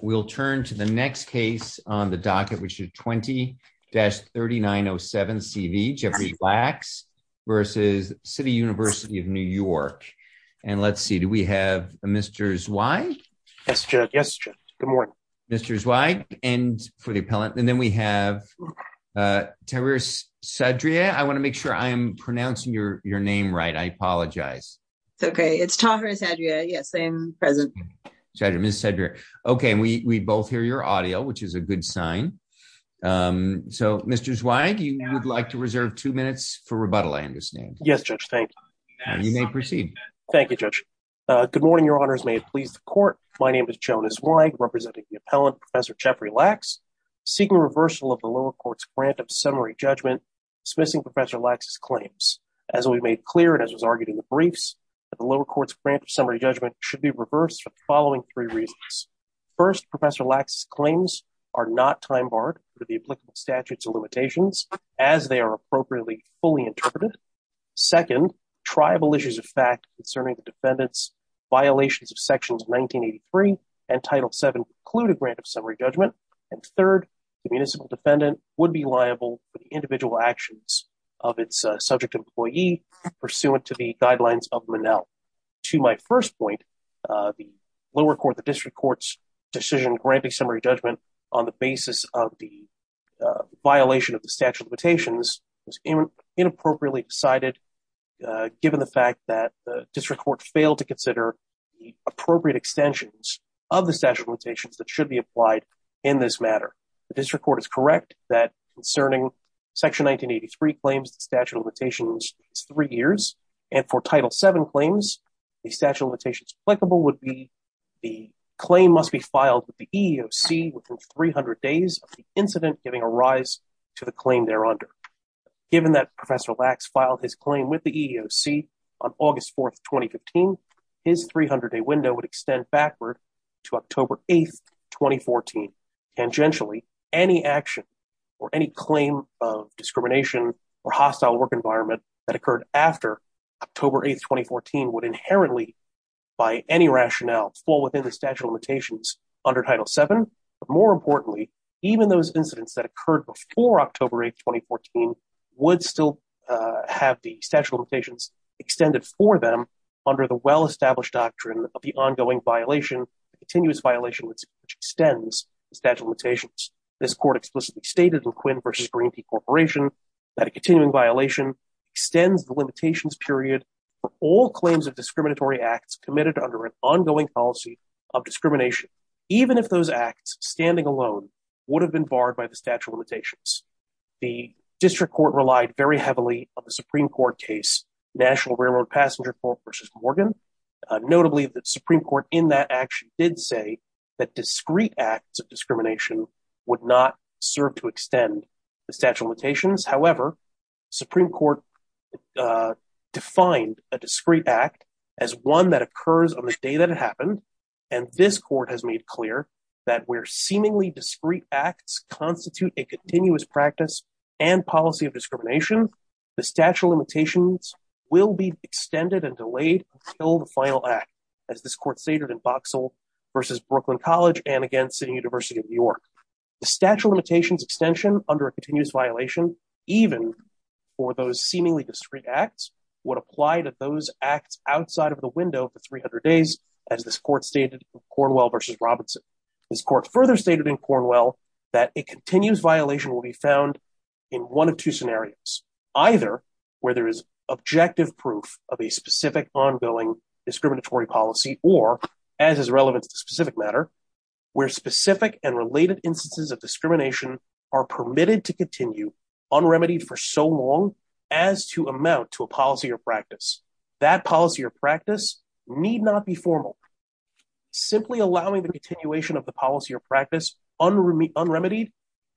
We'll turn to the next case on the docket, which is 20-3907CV, Jeffrey Lax versus City University of New York. And let's see, do we have Mr. Zweig? Yes, Judge, yes, Judge, good morning. Mr. Zweig, and for the appellant, and then we have Taris Sadria. I want to make sure I am pronouncing your name right. I apologize. It's okay, it's Taris Sadria. Yes, I am present. Judge, Ms. Sadria. Okay, and we both hear your audio, which is a good sign. So, Mr. Zweig, you would like to reserve two minutes for rebuttal, I understand. Yes, Judge, thank you. You may proceed. Thank you, Judge. Good morning, Your Honors, may it please the Court. My name is Jonas Zweig, representing the appellant, Professor Jeffrey Lax, seeking reversal of the lower court's grant of summary judgment, dismissing Professor Lax's claims. As we made clear, and as was argued in the briefs, that the lower court's grant of summary judgment should be reversed for the following three reasons. First, Professor Lax's claims are not time-barred under the applicable statutes and limitations, as they are appropriately fully interpreted. Second, triable issues of fact concerning the defendant's violations of Sections 1983 and Title VII preclude a grant of summary judgment. And third, the municipal defendant would be liable for the individual actions of its subject employee pursuant to the guidelines of Monell. To my first point, the lower court, the district court's decision granting summary judgment on the basis of the violation of the statute of limitations was inappropriately decided, given the fact that the district court failed to consider the appropriate extensions of the statute of limitations that should be applied in this matter. The district court is correct that concerning Section 1983 claims the statute of limitations is three years, and for Title VII claims, the statute of limitations applicable would be the claim must be filed with the EEOC within 300 days of the incident giving a rise to the claim there under. Given that Professor Lax filed his claim with the EEOC on August 4th, 2015, his 300-day window would extend backward to October 8th, 2014. Tangentially, any action or any claim of discrimination or hostile work environment that occurred after October 8th, 2014 would inherently, by any rationale, fall within the statute of limitations under Title VII, but more importantly, even those incidents that occurred before October 8th, 2014 would still have the statute of limitations extended for them under the well-established doctrine of the ongoing violation, the continuous violation which extends the statute of limitations. This court explicitly stated in Quinn v. Greenpea Corporation that a continuing violation extends the limitations period for all claims of discriminatory acts committed under an ongoing policy of discrimination, even if those acts standing alone would have been barred by the statute of limitations. The district court relied very heavily on the Supreme Court case, National Railroad Passenger Court v. Morgan. Notably, the Supreme Court in that action did say that discrete acts of discrimination would not serve to extend the statute of limitations. However, Supreme Court defined a discrete act as one that occurs on the day that it happened, and this court has made clear that where seemingly discrete acts constitute a continuous practice and policy of discrimination, the statute of limitations will be extended and delayed until the final act, as this court stated in Boxall v. Brooklyn College and again, City University of New York. The statute of limitations extension under a continuous violation, even for those seemingly discrete acts would apply to those acts outside of the window for 300 days, as this court stated in Cornwell v. Robinson. This court further stated in Cornwell that a continuous violation will be found in one of two scenarios, either where there is objective proof of a specific ongoing discriminatory policy or as is relevant to specific matter, where specific and related instances of discrimination are permitted to continue unremitied for so long as to amount to a policy or practice. That policy or practice need not be formal. Simply allowing the continuation of the policy or practice unremitied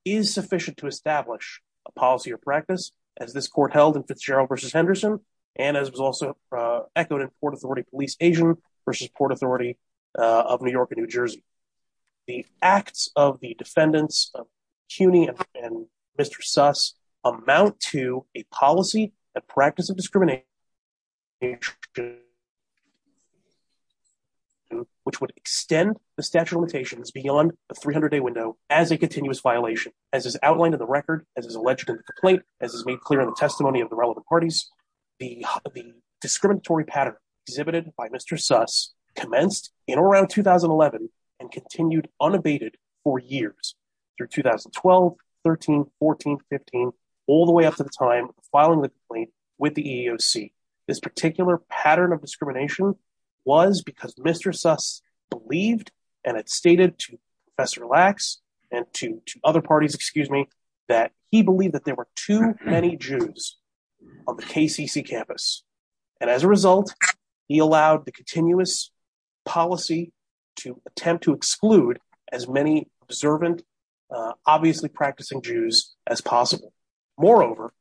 is sufficient to establish a policy or practice, as this court held in Fitzgerald v. Henderson, and as was also echoed in Port Authority Police Asian v. Port Authority of New York and New Jersey. The acts of the defendants of CUNY and Mr. Suss amount to a policy, a practice of discrimination, which would extend the statute of limitations beyond a 300 day window as a continuous violation, as is outlined in the record, as is alleged in the complaint, as is made clear in the testimony of the relevant parties. The discriminatory pattern exhibited by Mr. Suss commenced in or around 2011 and continued unabated for years, through 2012, 13, 14, 15, all the way up to the time of filing the complaint with the EEOC. This particular pattern of discrimination was because Mr. Suss believed, and it's stated to Professor Lacks and to other parties, excuse me, that he believed that there were too many Jews on the KCC campus. And as a result, he allowed the continuous policy to attempt to exclude as many observant, obviously practicing Jews as possible. Moreover,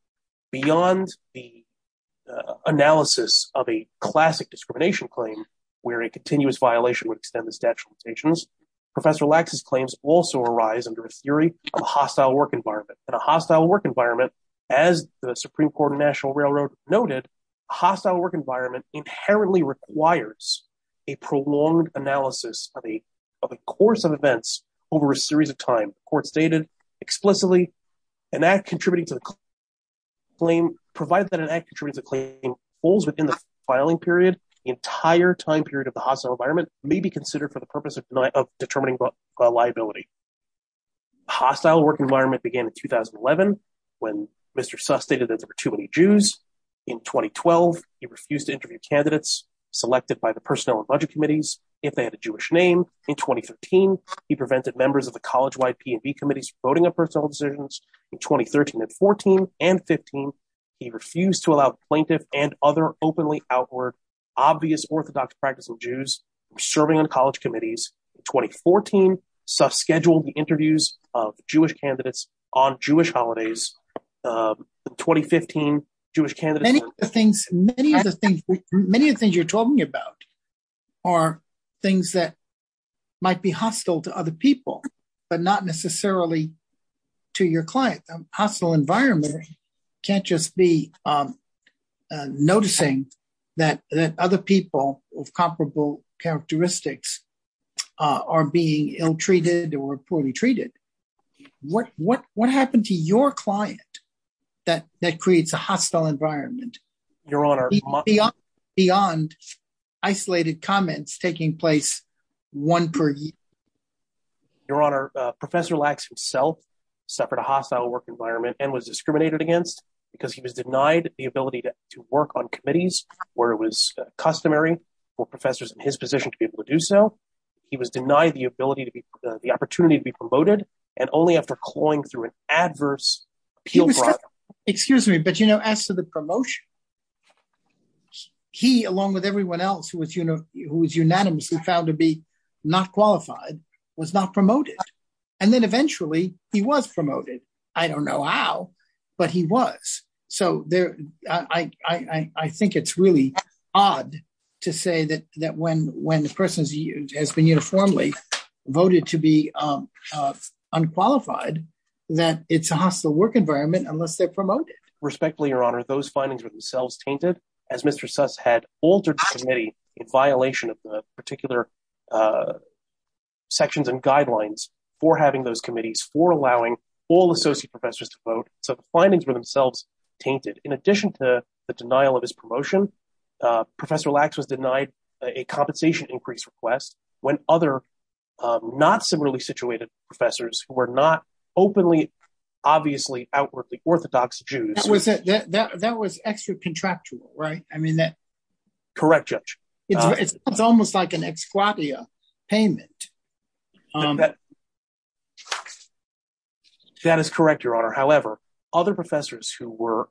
beyond the analysis of a classic discrimination claim, where a continuous violation would extend the statute of limitations, Professor Lacks' claims also arise under a theory of a hostile work environment. In a hostile work environment, as the Supreme Court of National Railroad noted, hostile work environment inherently requires a prolonged analysis of the course of events over a series of time. The court stated explicitly, an act contributing to the claim, provided that an act contributing to the claim falls within the filing period, the entire time period of the hostile environment may be considered for the purpose of determining liability. Hostile work environment began in 2011, when Mr. Suss stated that there were too many Jews. In 2012, he refused to interview candidates selected by the personnel and budget committees if they had a Jewish name. In 2013, he prevented members of the college-wide P and B committees from voting on personal decisions. In 2013 and 14 and 15, he refused to allow plaintiff and other openly outward, obvious orthodox practicing Jews from serving on college committees. In 2014, Suss scheduled the interviews of Jewish candidates on Jewish holidays, the 2015 Jewish candidates- Many of the things you're talking about are things that might be hostile to other people, but not necessarily to your client. Hostile environment can't just be noticing that other people of comparable characteristics are being ill-treated or poorly treated. What happened to your client that creates a hostile environment? Your Honor- Beyond isolated comments taking place one per year. Your Honor, Professor Lacks himself suffered a hostile work environment and was discriminated against because he was denied the ability to work on committees where it was customary for professors in his position to be able to do so. He was denied the opportunity to be promoted and only after clawing through an adverse appeal process. Excuse me, but you know, as to the promotion, he, along with everyone else who was unanimously found to be not qualified, was not promoted. And then eventually he was promoted. I don't know how, but he was. So I think it's really odd to say that when the person has been uniformly voted to be unqualified, that it's a hostile work environment unless they're promoted. Respectfully, Your Honor, those findings were themselves tainted as Mr. Suss had altered the committee in violation of the particular sections and guidelines for having those committees, for allowing all associate professors to vote. So the findings were themselves tainted. In addition to the denial of his promotion, Professor Lacks was denied a compensation increase request when other not similarly situated professors who were not openly, obviously, outwardly Orthodox Jews. That was extra contractual, right? I mean that- Correct, Judge. It's almost like an ex quatia payment. That is correct, Your Honor. However, other professors who were,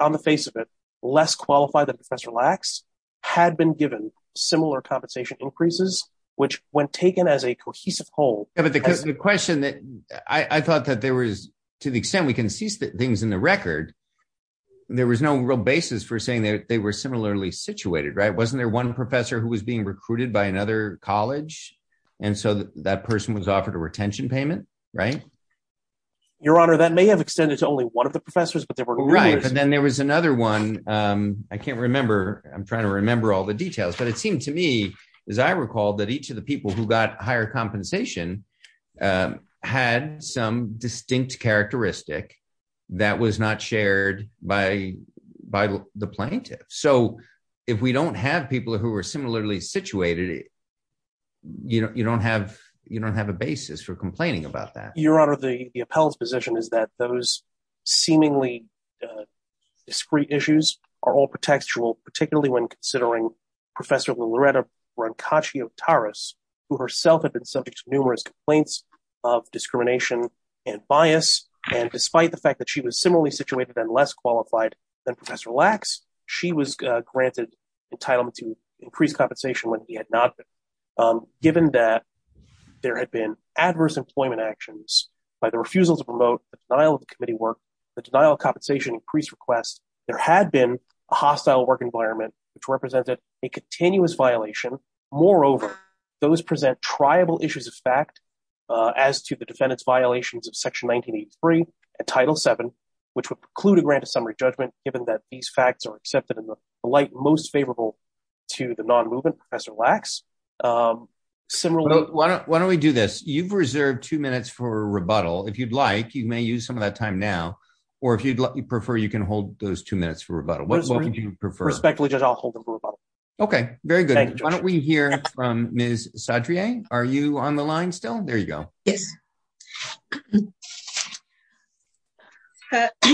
on the face of it, less qualified than Professor Lacks had been given similar compensation increases, which when taken as a cohesive whole- Yeah, but the question that, I thought that there was, to the extent we can cease things in the record, there was no real basis for saying that they were similarly situated, right? Wasn't there one professor who was being recruited by another college? And so that person was offered a retention payment, right? Your Honor, that may have extended to only one of the professors, but there were- Right, but then there was another one. I can't remember. I'm trying to remember all the details, but it seemed to me, as I recall, that each of the people who got higher compensation had some distinct characteristic that was not shared by the plaintiff. So if we don't have people who are similarly situated, you don't have a basis for complaining about that. Your Honor, the appellate's position is that those seemingly discreet issues are all contextual, particularly when considering Professor Loretta Brancacci-Otaris who herself had been subject to numerous complaints of discrimination and bias. And despite the fact that she was similarly situated and less qualified than Professor Lacks, she was granted entitlement to increased compensation when he had not been. Given that there had been adverse employment actions by the refusal to promote the denial of the committee work, the denial of compensation increased requests, there had been a hostile work environment which represented a continuous violation. Moreover, those present triable issues of fact as to the defendant's violations of Section 1983 and Title VII, which would preclude a grant of summary judgment given that these facts are accepted in the light most favorable to the non-movement Professor Lacks. Similarly- Why don't we do this? You've reserved two minutes for rebuttal. If you'd like, you may use some of that time now, or if you'd prefer, you can hold those two minutes for rebuttal. What would you prefer? Respectfully, Judge, I'll hold them for rebuttal. Okay, very good. Thank you, Judge. Why don't we hear from Ms. Saadriyeh? Are you on the line still? There you go. Yes.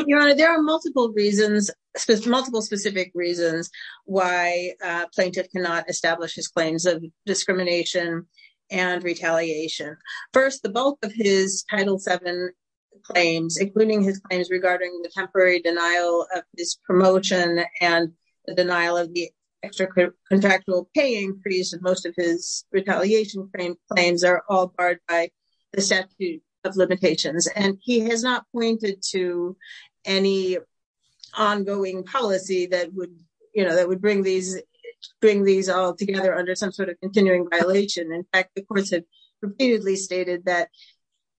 Your Honor, there are multiple reasons, multiple specific reasons why a plaintiff cannot establish his claims of discrimination and retaliation. First, the bulk of his Title VII claims, including his claims regarding the temporary denial of his promotion and the denial of the extra contractual pay increase of most of his retaliation claims are all barred by the statute of limitations. And he has not pointed to any ongoing policy that would bring these all together under some sort of continuing violation. In fact, the courts have repeatedly stated that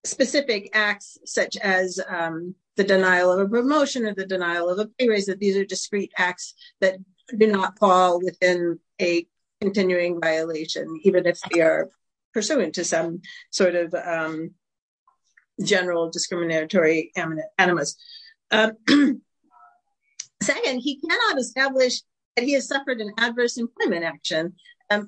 specific acts such as the denial of a promotion or the denial of a pay raise, that these are discrete acts that do not fall within a continuing violation, even if they are pursuant to some sort of general discriminatory animus. Second, he cannot establish that he has suffered an adverse employment action.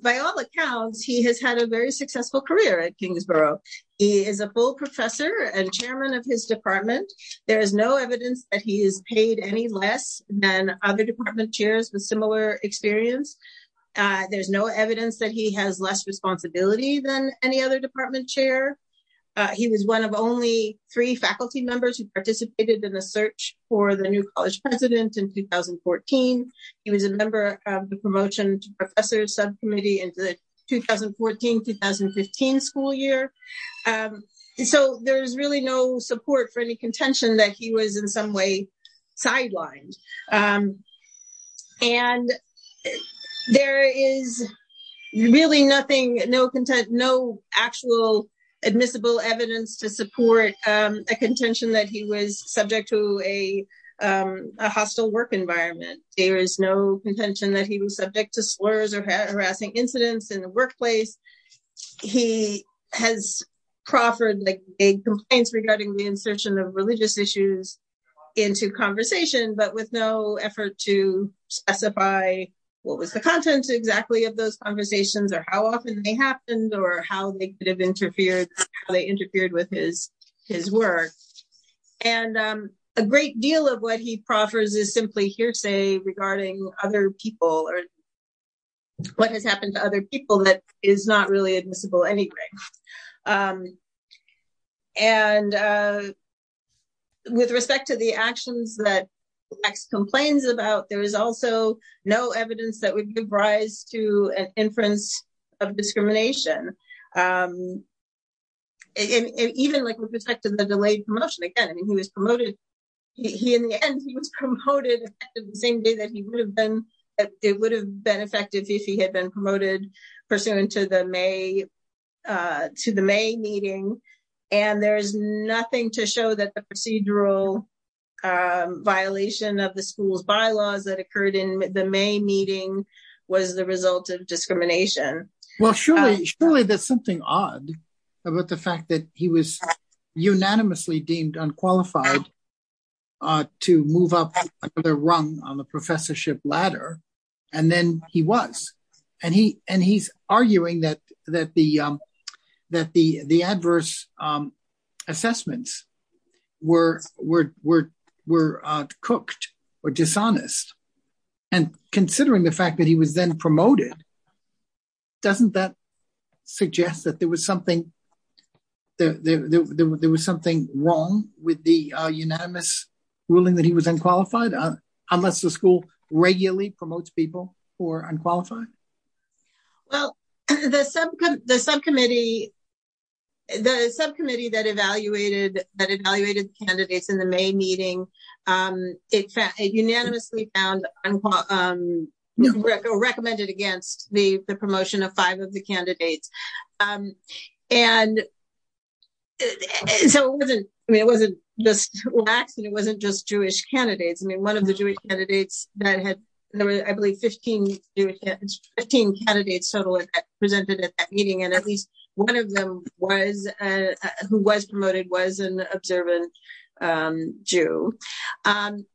By all accounts, he has had a very successful career at Kingsborough. He is a full professor and chairman of his department. There is no evidence that he is paid any less than other department chairs with similar experience. There's no evidence that he has less responsibility than any other department chair. He was one of only three faculty members who participated in the search for the new college president in 2014. He was a member of the promotion professors subcommittee in the 2014, 2015 school year. So there's really no support for any contention that he was in some way sidelined. And there is really nothing, no actual admissible evidence to support a contention that he was subject to a hostile work environment. There is no contention that he was subject to slurs or harassing incidents in the workplace. He has proffered like a complaints regarding the insertion of religious issues into conversation, but with no effort to specify what was the content exactly of those conversations or how often they happened or how they could have interfered, how they interfered with his work. And a great deal of what he proffers is simply hearsay regarding other people or what has happened to other people that is not really admissible anyway. And with respect to the actions that X complains about, there is also no evidence that would give rise to an inference of discrimination. And even like with respect to the delayed promotion, again, I mean, he was promoted, he in the end, he was promoted the same day that he would have been, it would have been effective if he had been promoted pursuant to the May meeting. And there's nothing to show that the procedural violation of the school's bylaws that occurred in the May meeting was the result of discrimination. Well, surely there's something odd about the fact that he was unanimously deemed unqualified to move up the rung on the professorship ladder. And then he was, and he's arguing that the adverse assessments were cooked or dishonest. And considering the fact that he was then promoted doesn't that suggest that there was something, there was something wrong with the unanimous ruling that he was unqualified unless the school regularly promotes people who are unqualified? Well, the subcommittee that evaluated the candidates in the May meeting, it unanimously found, unqualified, recommended against the promotion of five of the candidates. And so it wasn't, I mean, it wasn't just blacks and it wasn't just Jewish candidates. I mean, one of the Jewish candidates that had, I believe 15 candidates total presented at that meeting. And at least one of them was, who was promoted was an observant Jew. And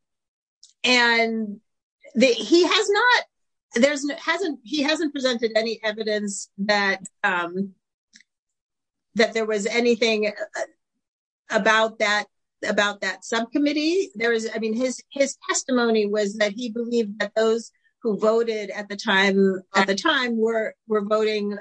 he has not, there's hasn't, he hasn't presented any evidence that there was anything about that subcommittee. There was, I mean, his testimony was that he believed that those who voted at the time were voting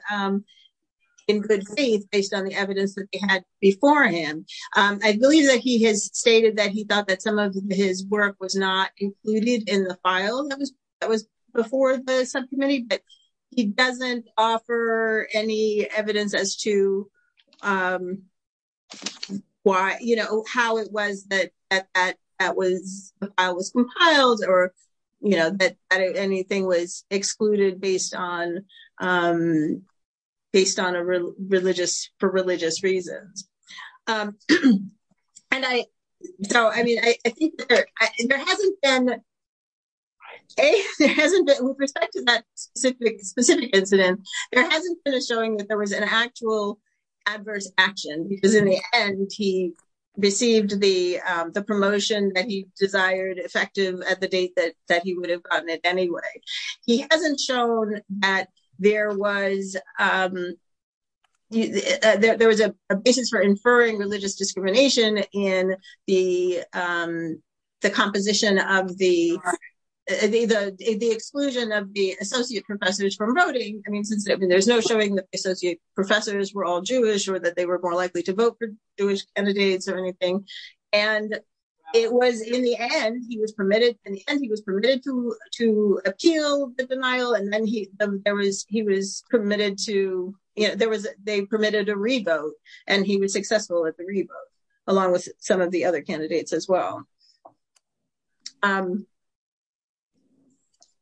in good faith based on the evidence that they had before him. I believe that he has stated that he thought that some of his work was not included in the file that was before the subcommittee, but he doesn't offer any evidence as to why, how it was that I was compiled or that anything was excluded based on a religious, for religious reasons. And I, so, I mean, I think there hasn't been, A, there hasn't been, with respect to that specific, specific incident, there hasn't been a showing that there was an actual adverse action because in the end he received the promotion that he desired effective at the date that he would have gotten it anyway. He hasn't shown that there was, there was a basis for inferring religious discrimination in the composition of the exclusion of the associate professors from voting. I mean, since there's no showing that the associate professors were all Jewish or that they were more likely to vote for Jewish candidates or anything. And it was in the end, he was permitted, in the end he was permitted to appeal the denial. And then he, there was, he was permitted to, there was, they permitted a revote and he was successful at the revote along with some of the other candidates as well. And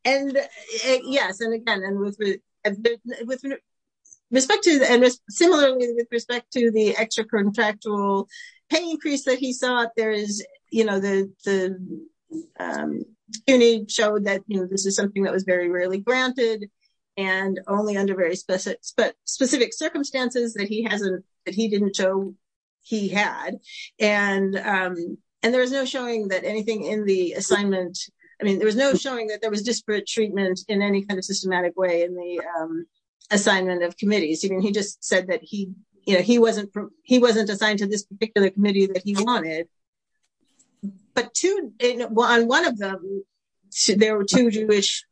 yes, and again, and with respect to, and similarly with respect to the extracontractual pay increase that he sought, there is, you know, the CUNY showed that, you know, this is something that was very rarely granted and only under very specific circumstances that he hasn't, that he didn't show he had. And there was no showing that anything in the assignment, I mean, there was no showing that there was disparate treatment in any kind of systematic way in the assignment of committees. I mean, he just said that he, you know, he wasn't assigned to this particular committee that he wanted. But two, on one of them, there were two Jewish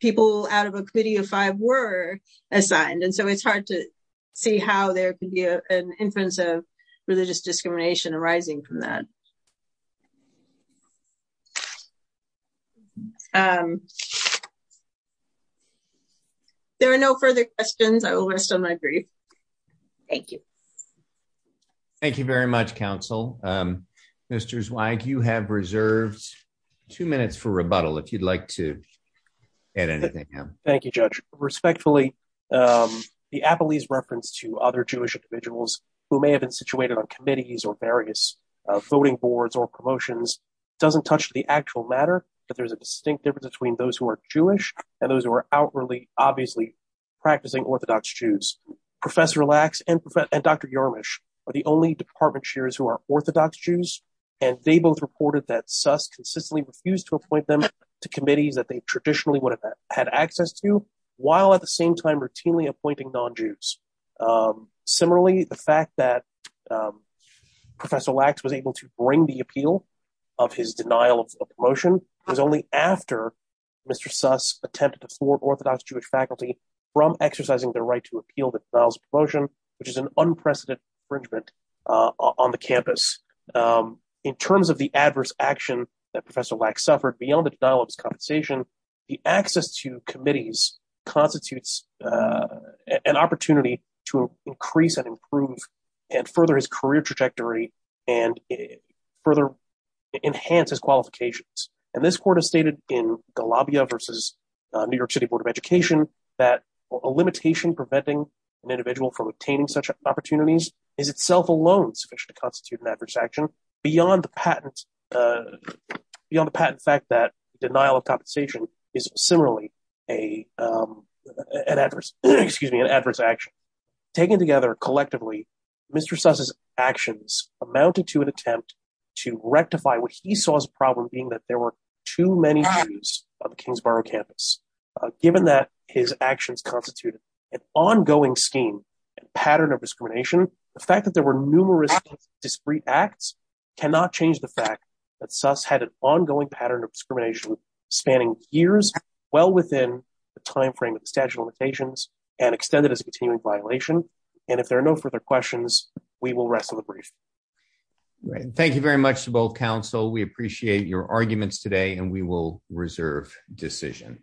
people out of a committee of five were assigned. And so it's hard to see how there could be an influence of religious discrimination arising from that. There are no further questions, I will rest on my brief. Thank you. Thank you very much, counsel. Mr. Zweig, you have reserved two minutes for rebuttal if you'd like to add anything. Thank you, Judge. Respectfully, the Apolese reference to other Jewish individuals who may have been situated on committees or various voting boards or promotions doesn't touch the actual matter, but there's a distinct difference between those who are Jewish and those who are outwardly, obviously practicing Orthodox Jews. Professor Lacks and Dr. Jarmusch are the only department chairs who are Orthodox Jews. And they both reported that Suss consistently refused to appoint them to committees that they traditionally would have had access to while at the same time routinely appointing non-Jews. Similarly, the fact that Professor Lacks was able to bring the appeal of his denial of promotion was only after Mr. Suss attempted to thwart Orthodox Jewish faculty from exercising their right to appeal the denial of promotion, which is an unprecedented infringement on the campus. In terms of the adverse action that Professor Lacks suffered beyond the denial of his compensation, the access to committees constitutes an opportunity to increase and improve and further his career trajectory and further enhance his qualifications. And this court has stated in Galabia versus New York City Board of Education that a limitation preventing an individual from obtaining such opportunities is itself alone sufficient to constitute an adverse action beyond the patent fact that denial of compensation is similarly an adverse action. Taken together collectively, Mr. Suss's actions amounted to an attempt to rectify what he saw as a problem being that there were too many Jews on the Kingsborough campus given that his actions constituted an ongoing scheme and pattern of discrimination. The fact that there were numerous discreet acts cannot change the fact that Suss had an ongoing pattern of discrimination spanning years well within the timeframe of the statute of limitations and extended as a continuing violation. And if there are no further questions, we will rest of the brief. Thank you very much to both counsel. We appreciate your arguments today and we will reserve decision.